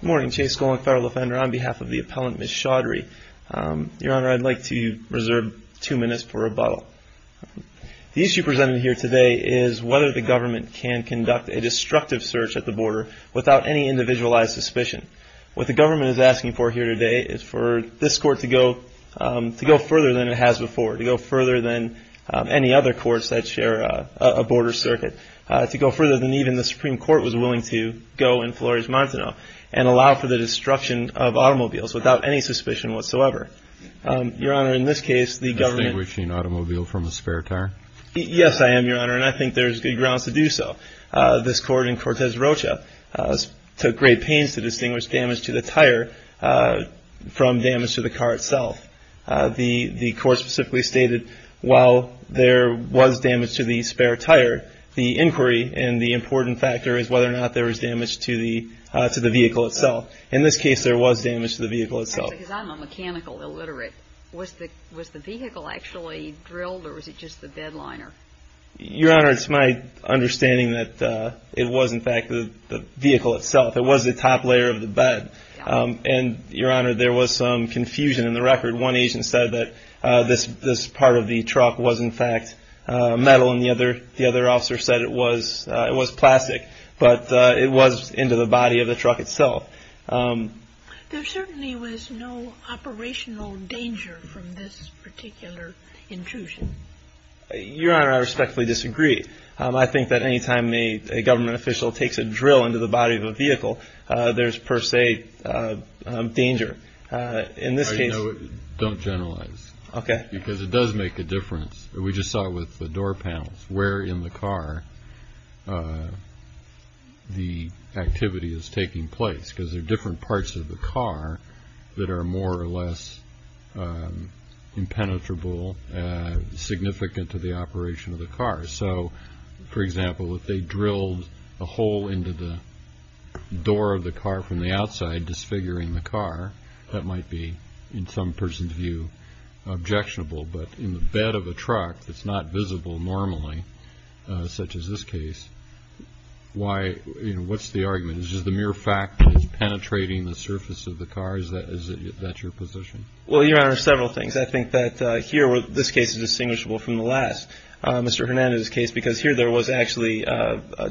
Good morning, Chase Golan, federal offender, on behalf of the appellant Ms. Chaudhry. Your Honor, I'd like to reserve two minutes for rebuttal. The issue presented here today is whether the government can conduct a destructive search at the border without any individualized suspicion. What the government is asking for here today is for this court to go further than it has before, to go further than any other courts that share a border circuit, to go further than even the Supreme Court was willing to go in Flores-Montano and allow for the destruction of automobiles without any suspicion whatsoever. Your Honor, in this case, the government... Distinguishing an automobile from a spare tire? Yes, I am, Your Honor, and I think there's good grounds to do so. This court in Cortez Rocha took great pains to distinguish damage to the tire from damage to the car itself. The court specifically stated while there was damage to the spare tire, the inquiry and the important factor is whether or not there was damage to the vehicle itself. In this case, there was damage to the vehicle itself. Because I'm a mechanical illiterate, was the vehicle actually drilled or was it just the bed liner? Your Honor, it's my understanding that it was, in fact, the vehicle itself. It was the top layer of the bed. And, Your Honor, there was some confusion in the record. One agent said that this part of the truck was, in fact, metal, and the other officer said it was plastic. But it was into the body of the truck itself. There certainly was no operational danger from this particular intrusion. Your Honor, I respectfully disagree. I think that any time a government official takes a drill into the body of a vehicle, there's per se danger. Don't generalize. Okay. Because it does make a difference. We just saw it with the door panels, where in the car the activity is taking place. Because there are different parts of the car that are more or less impenetrable, significant to the operation of the car. So, for example, if they drilled a hole into the door of the car from the outside, disfiguring the car, that might be, in some person's view, objectionable. But in the bed of a truck that's not visible normally, such as this case, what's the argument? Is it just the mere fact that it's penetrating the surface of the car? Is that your position? Well, Your Honor, several things. I think that here this case is distinguishable from the last. Mr. Hernandez's case, because here there was actually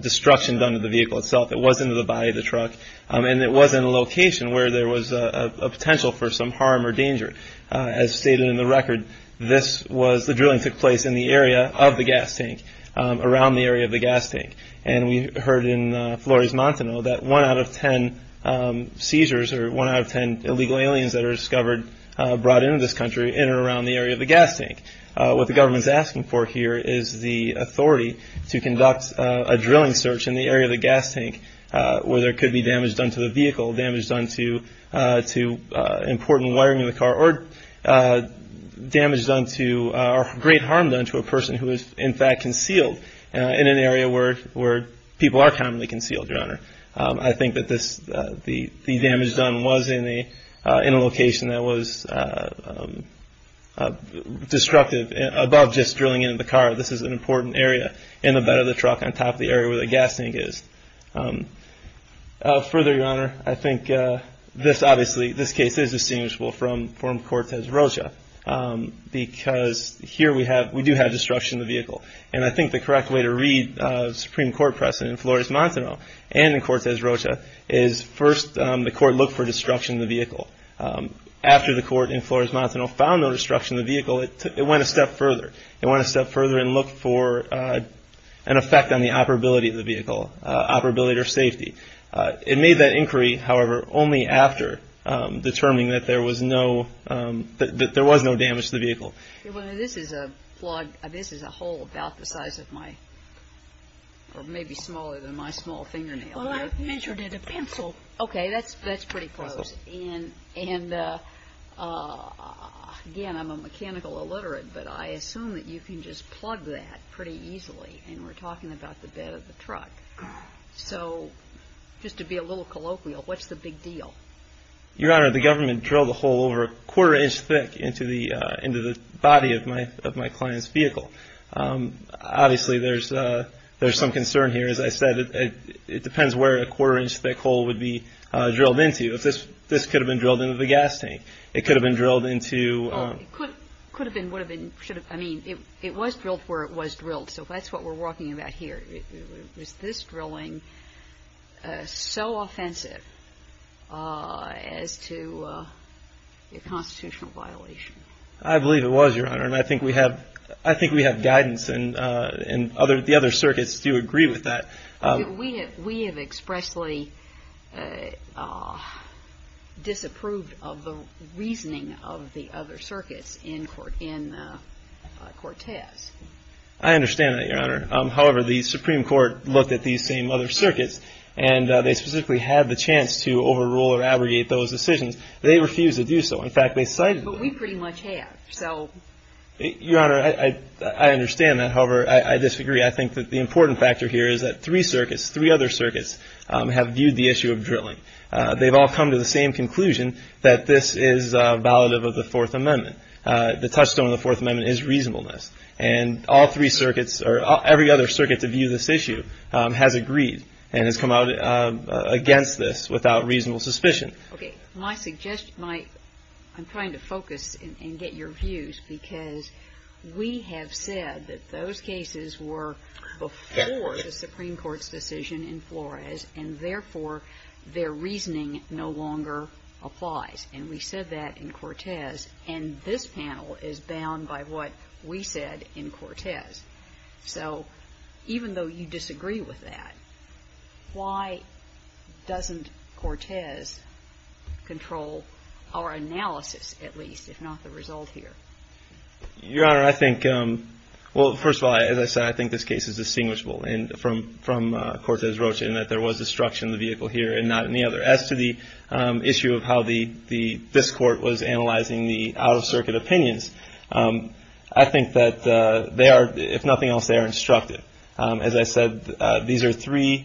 destruction done to the vehicle itself. It was into the body of the truck. And it was in a location where there was a potential for some harm or danger. As stated in the record, this was the drilling took place in the area of the gas tank, around the area of the gas tank. And we heard in Flores Montano that one out of ten seizures, or one out of ten illegal aliens that are discovered brought into this country in or around the area of the gas tank. What the government is asking for here is the authority to conduct a drilling search in the area of the gas tank, where there could be damage done to the vehicle, damage done to important wiring in the car, or damage done to or great harm done to a person who is, in fact, concealed in an area where people are commonly concealed, Your Honor. I think that the damage done was in a location that was destructive above just drilling into the car. This is an important area in the bed of the truck on top of the area where the gas tank is. Further, Your Honor, I think this obviously, this case is distinguishable from Cortez Rocha, because here we do have destruction of the vehicle. And I think the correct way to read Supreme Court precedent in Flores Montano, and in Cortez Rocha, is first the court looked for destruction of the vehicle. After the court in Flores Montano found no destruction of the vehicle, it went a step further. It went a step further and looked for an effect on the operability of the vehicle, operability or safety. It made that inquiry, however, only after determining that there was no damage to the vehicle. Well, this is a plug, this is a hole about the size of my, or maybe smaller than my small fingernail. Well, I measured it a pencil. Okay, that's pretty close. And again, I'm a mechanical illiterate, but I assume that you can just plug that pretty easily, and we're talking about the bed of the truck. So just to be a little colloquial, what's the big deal? Your Honor, the government drilled a hole over a quarter-inch thick into the body of my client's vehicle. Obviously, there's some concern here. As I said, it depends where a quarter-inch thick hole would be drilled into. This could have been drilled into the gas tank. It could have been drilled into. Well, it could have been, would have been, should have. I mean, it was drilled where it was drilled, so that's what we're talking about here. Was this drilling so offensive as to a constitutional violation? I believe it was, Your Honor, and I think we have guidance, and the other circuits do agree with that. We have expressly disapproved of the reasoning of the other circuits in Cortez. I understand that, Your Honor. However, the Supreme Court looked at these same other circuits, and they specifically had the chance to overrule or abrogate those decisions. They refused to do so. In fact, they cited the law. But we pretty much have, so. Your Honor, I understand that. However, I disagree. I think that the important factor here is that three circuits, three other circuits, have viewed the issue of drilling. They've all come to the same conclusion that this is valid of the Fourth Amendment. The touchstone of the Fourth Amendment is reasonableness, and all three circuits or every other circuit to view this issue has agreed and has come out against this without reasonable suspicion. Okay. I'm trying to focus and get your views because we have said that those cases were before the Supreme Court's decision in Flores, and therefore their reasoning no longer applies, and we said that in Cortez. And this panel is bound by what we said in Cortez. So even though you disagree with that, why doesn't Cortez control our analysis, at least, if not the result here? Your Honor, I think, well, first of all, as I said, I think this case is distinguishable from Cortez-Rocha in that there was destruction in the vehicle here and not in the other. As to the issue of how this court was analyzing the out-of-circuit opinions, I think that they are, if nothing else, they are instructive. As I said, these are three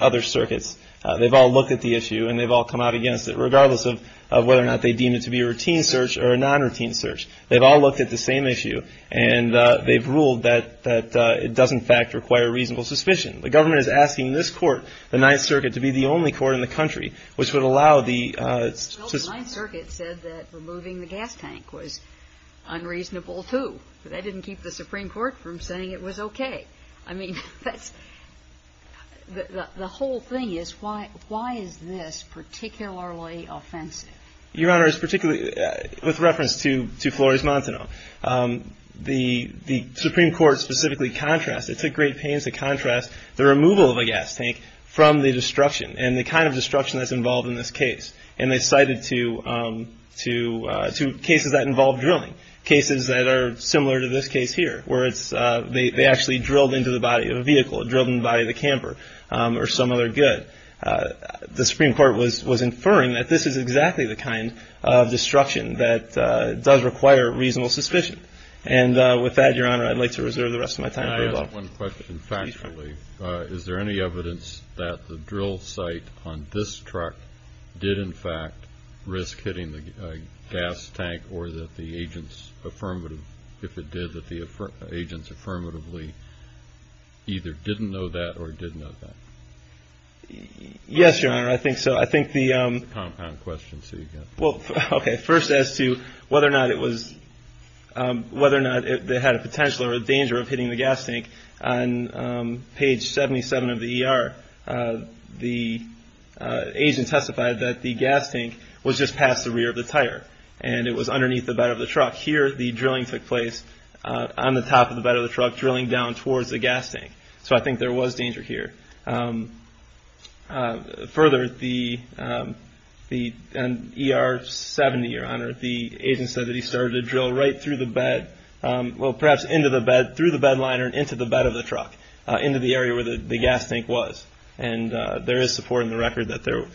other circuits. They've all looked at the issue, and they've all come out against it, regardless of whether or not they deem it to be a routine search or a non-routine search. They've all looked at the same issue, and they've ruled that it does, in fact, require reasonable suspicion. The government is asking this court, the Ninth Circuit, to be the only court in the country which would allow the — Well, the Ninth Circuit said that removing the gas tank was unreasonable, too. But that didn't keep the Supreme Court from saying it was okay. I mean, that's — the whole thing is why is this particularly offensive? Your Honor, it's particularly — with reference to Flores-Montano, the Supreme Court specifically contrasts. It took great pains to contrast the removal of a gas tank from the destruction and the kind of destruction that's involved in this case. And they cited two cases that involved drilling, cases that are similar to this case here, where it's — they actually drilled into the body of a vehicle, drilled into the body of a camper or some other good. The Supreme Court was inferring that this is exactly the kind of destruction that does require reasonable suspicion. And with that, Your Honor, I'd like to reserve the rest of my time for your vote. I have one question, factually. Is there any evidence that the drill site on this truck did, in fact, risk hitting the gas tank or that the agents affirmative — if it did, that the agents affirmatively either didn't know that or did know that? Yes, Your Honor, I think so. I think the — Well, okay, first as to whether or not it was — whether or not it had a potential or a danger of hitting the gas tank, on page 77 of the ER, the agent testified that the gas tank was just past the rear of the tire and it was underneath the bed of the truck. Here, the drilling took place on the top of the bed of the truck, drilling down towards the gas tank. So I think there was danger here. Further, the — on ER 70, Your Honor, the agent said that he started the drill right through the bed — well, perhaps into the bed, through the bed liner and into the bed of the truck, into the area where the gas tank was. And there is support in the record that there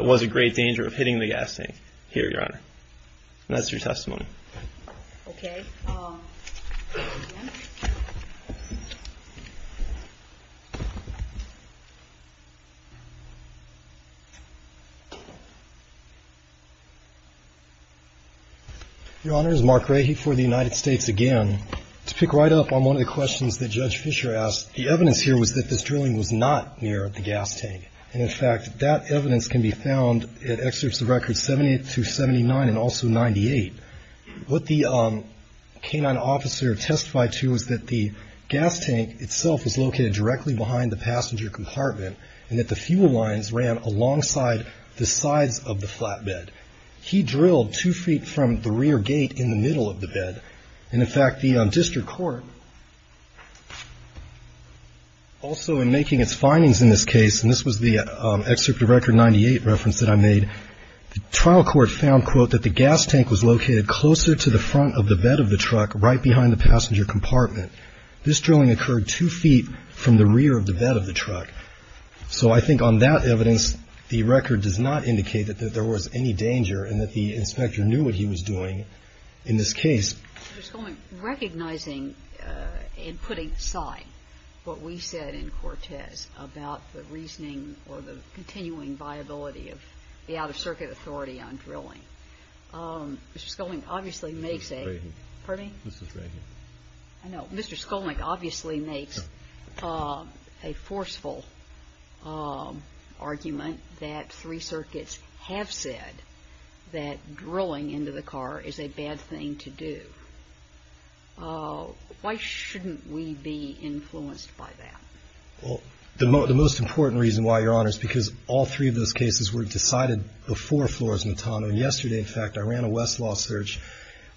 was a great danger of hitting the gas tank here, Your Honor. And that's your testimony. Okay. Your Honor, this is Mark Rahy for the United States again. To pick right up on one of the questions that Judge Fischer asked, the evidence here was that this drilling was not near the gas tank. And, in fact, that evidence can be found in excerpts of records 78 through 79 and also 98. What the K-9 officer testified to was that the gas tank itself was located directly behind the passenger compartment and that the fuel lines ran alongside the sides of the flatbed. He drilled two feet from the rear gate in the middle of the bed. And, in fact, the district court also, in making its findings in this case — and this was the excerpt of Record 98 reference that I made — the trial court found, quote, that the gas tank was located closer to the front of the bed of the truck, right behind the passenger compartment. This drilling occurred two feet from the rear of the bed of the truck. So I think on that evidence, the record does not indicate that there was any danger and that the inspector knew what he was doing in this case. Mr. Skolnik, recognizing and putting aside what we said in Cortez about the reasoning or the continuing viability of the out-of-circuit authority on drilling, Mr. Skolnik obviously makes a — Mr. Strahan. Pardon me? Mr. Strahan. I know. Mr. Skolnik obviously makes a forceful argument that three circuits have said that drilling into the car is a bad thing to do. Why shouldn't we be influenced by that? Well, the most important reason why, Your Honor, is because all three of those cases were decided before Flores-Mitano. And yesterday, in fact, I ran a Westlaw search.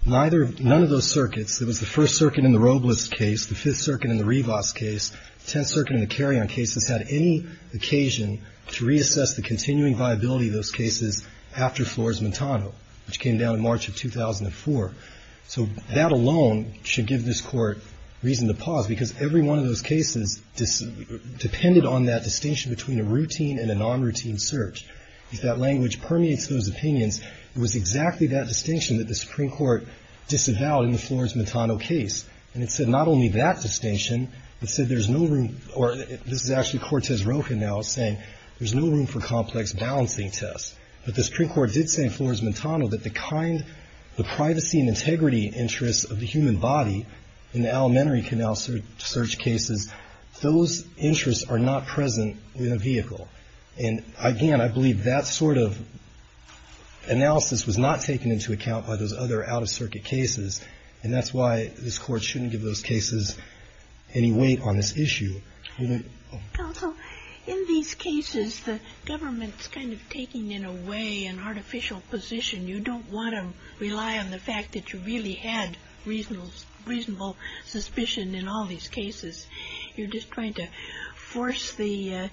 Neither — none of those circuits — it was the First Circuit in the Robles case, the Fifth Circuit in the Rivas case, Tenth Circuit in the Carrion case — had any occasion to reassess the continuing viability of those cases after Flores-Mitano, which came down in March of 2004. So that alone should give this Court reason to pause, because every one of those cases depended on that distinction between a routine and a non-routine search. If that language permeates those opinions, it was exactly that distinction that the Supreme Court disavowed in the Flores-Mitano case. And it said not only that distinction, but said there's no room — or this is actually Cortez Rocha now saying there's no room for complex balancing tests. But the Supreme Court did say in Flores-Mitano that the kind — the privacy and integrity interests of the human body in the Alimentary Canal search cases, those interests are not present in a vehicle. And, again, I believe that sort of analysis was not taken into account by those other out-of-circuit cases. And that's why this Court shouldn't give those cases any weight on this issue. We don't — Also, in these cases, the government's kind of taking, in a way, an artificial position. You don't want to rely on the fact that you really had reasonable suspicion in all these cases. You're just trying to force the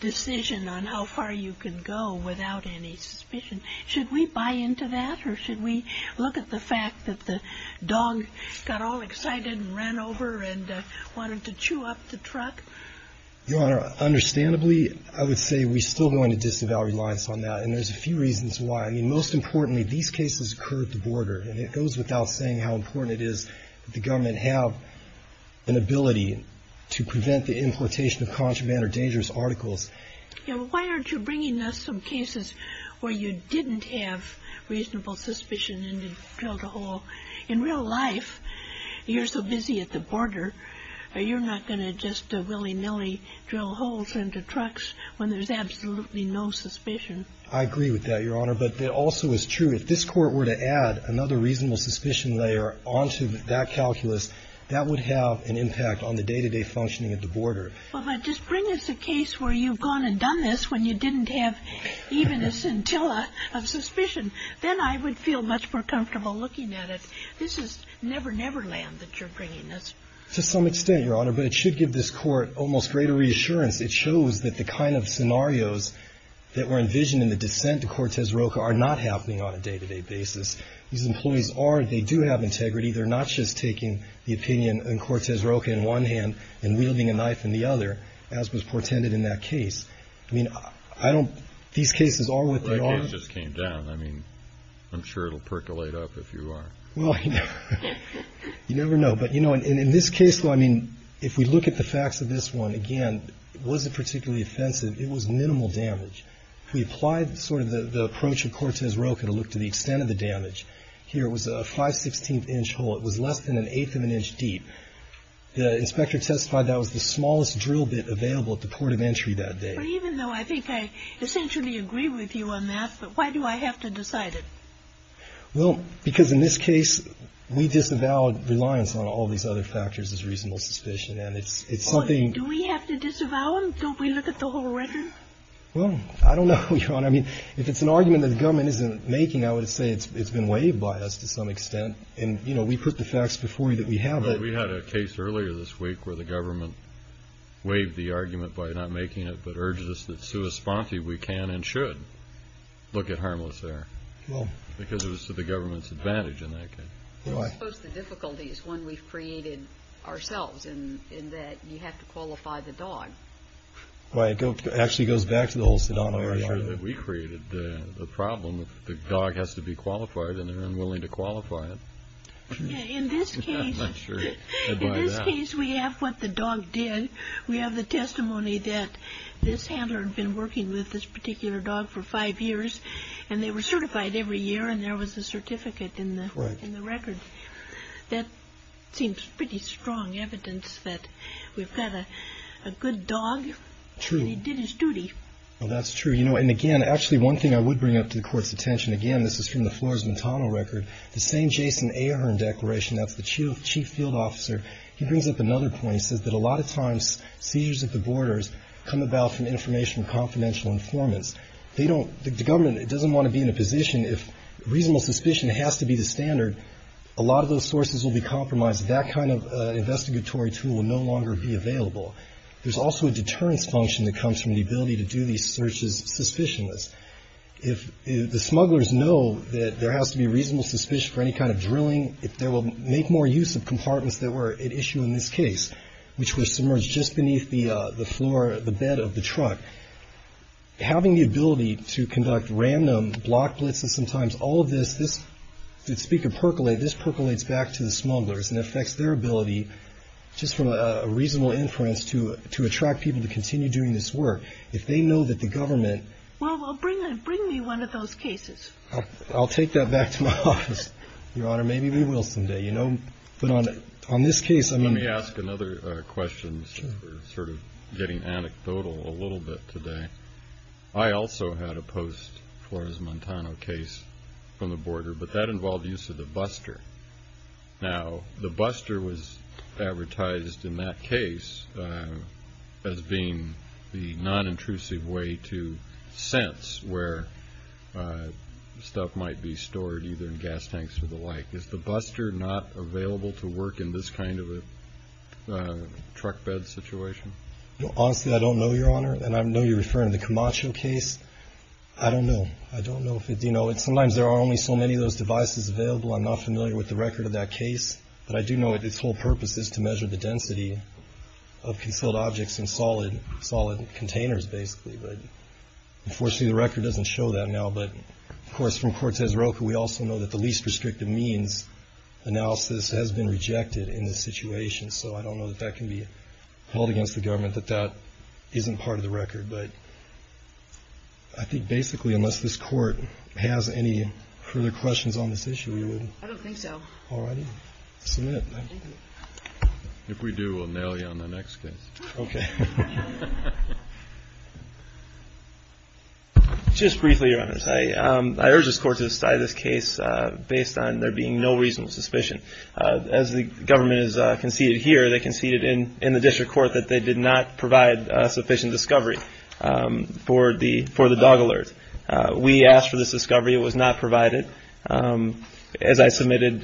decision on how far you can go without any suspicion. Should we buy into that, or should we look at the fact that the dog got all excited and ran over and wanted to chew up the truck? Your Honor, understandably, I would say we're still going to disavow reliance on that. And there's a few reasons why. I mean, most importantly, these cases occurred at the border. And it goes without saying how important it is that the government have an ability to prevent the importation of contraband or dangerous articles. Why aren't you bringing us some cases where you didn't have reasonable suspicion and you drilled a hole? In real life, you're so busy at the border, you're not going to just willy-nilly drill holes into trucks when there's absolutely no suspicion. I agree with that, Your Honor. But it also is true, if this Court were to add another reasonable suspicion layer onto that calculus, that would have an impact on the day-to-day functioning at the border. Well, but just bring us a case where you've gone and done this when you didn't have even a scintilla of suspicion. Then I would feel much more comfortable looking at it. This is never, never land that you're bringing us. To some extent, Your Honor. But it should give this Court almost greater reassurance. It shows that the kind of scenarios that were envisioned in the dissent to Cortez Roca are not happening on a day-to-day basis. These employees are. They do have integrity. They're not just taking the opinion in Cortez Roca in one hand and wielding a knife in the other, as was portended in that case. I mean, I don't – these cases are what they are. Well, that case just came down. I mean, I'm sure it'll percolate up if you are. Well, you never know. But, you know, in this case, though, I mean, if we look at the facts of this one, again, it wasn't particularly offensive. It was minimal damage. If we applied sort of the approach of Cortez Roca to look to the extent of the damage, here was a 516th-inch hole. It was less than an eighth of an inch deep. The inspector testified that was the smallest drill bit available at the port of entry that day. But even though I think I essentially agree with you on that, but why do I have to decide it? Well, because in this case, we disavowed reliance on all these other factors as reasonable suspicion. And it's something – Do we have to disavow them? Don't we look at the whole record? Well, I don't know, Your Honor. I mean, if it's an argument that the government isn't making, I would say it's been waived by us to some extent. And, you know, we put the facts before you that we have it. Well, we had a case earlier this week where the government waived the argument by not making it, but urged us that, sua sponte, we can and should look at harmless air. Well. Because it was to the government's advantage in that case. Well, I suppose the difficulty is one we've created ourselves in that you have to qualify the dog. Well, it actually goes back to the whole Sedano area. I'm not sure that we created the problem. If the dog has to be qualified and they're unwilling to qualify it. In this case, we have what the dog did. We have the testimony that this handler had been working with this particular dog for five years, and they were certified every year, and there was a certificate in the record. That seems pretty strong evidence that we've got a good dog. True. And he did his duty. Well, that's true. You know, and again, actually, one thing I would bring up to the Court's attention, again, this is from the Flores-Montano record, the same Jason Ahern declaration, that's the chief field officer. He brings up another point. He says that a lot of times seizures at the borders come about from informational confidential informants. The government doesn't want to be in a position, if reasonable suspicion has to be the standard, a lot of those sources will be compromised. That kind of investigatory tool will no longer be available. There's also a deterrence function that comes from the ability to do these searches suspicionless. If the smugglers know that there has to be reasonable suspicion for any kind of drilling, they will make more use of compartments that were at issue in this case, which were submerged just beneath the floor, the bed of the truck. Having the ability to conduct random block blitzes sometimes, all of this, this, did Speaker percolate, this percolates back to the smugglers and affects their ability, just from a reasonable inference, to attract people to continue doing this work. If they know that the government. Well, bring me one of those cases. I'll take that back to my office, Your Honor. Maybe we will someday. You know, but on this case. Let me ask another question, sort of getting anecdotal a little bit today. I also had a post-Flores-Montano case from the border, but that involved use of the buster. Now, the buster was advertised in that case as being the non-intrusive way to sense where stuff might be stored, either in gas tanks or the like. Is the buster not available to work in this kind of a truck bed situation? Honestly, I don't know, Your Honor. And I know you're referring to the Camacho case. I don't know. I don't know. You know, sometimes there are only so many of those devices available. I'm not familiar with the record of that case. But I do know its whole purpose is to measure the density of concealed objects in solid containers, basically. But, unfortunately, the record doesn't show that now. But, of course, from Cortez Roca, we also know that the least restrictive means analysis has been rejected in this situation. So I don't know that that can be held against the government, that that isn't part of the record. But I think, basically, unless this Court has any further questions on this issue, we would. I don't think so. All right. If we do, we'll nail you on the next case. Okay. Just briefly, Your Honor, I urge this Court to decide this case based on there being no reasonable suspicion. As the government has conceded here, they conceded in the District Court that they did not provide sufficient discovery for the dog alert. We asked for this discovery. It was not provided. As I submitted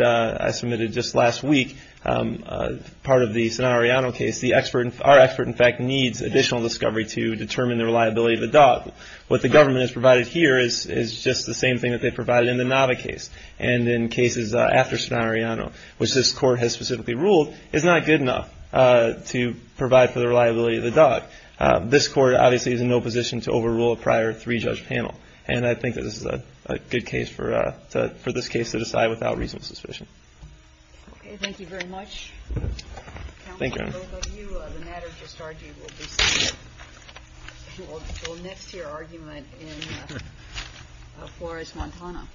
just last week, part of the Sonorano case, our expert, in fact, needs additional discovery to determine the reliability of the dog. What the government has provided here is just the same thing that they provided in the Nava case and in cases after Sonorano, which this Court has specifically ruled is not good enough to provide for the reliability of the dog. This Court, obviously, is in no position to overrule a prior three-judge panel. And I think that this is a good case for this case to decide without reasonable suspicion. Okay. Thank you very much. Thank you. The matter just argued will be seen next to your argument in Flores-Montana.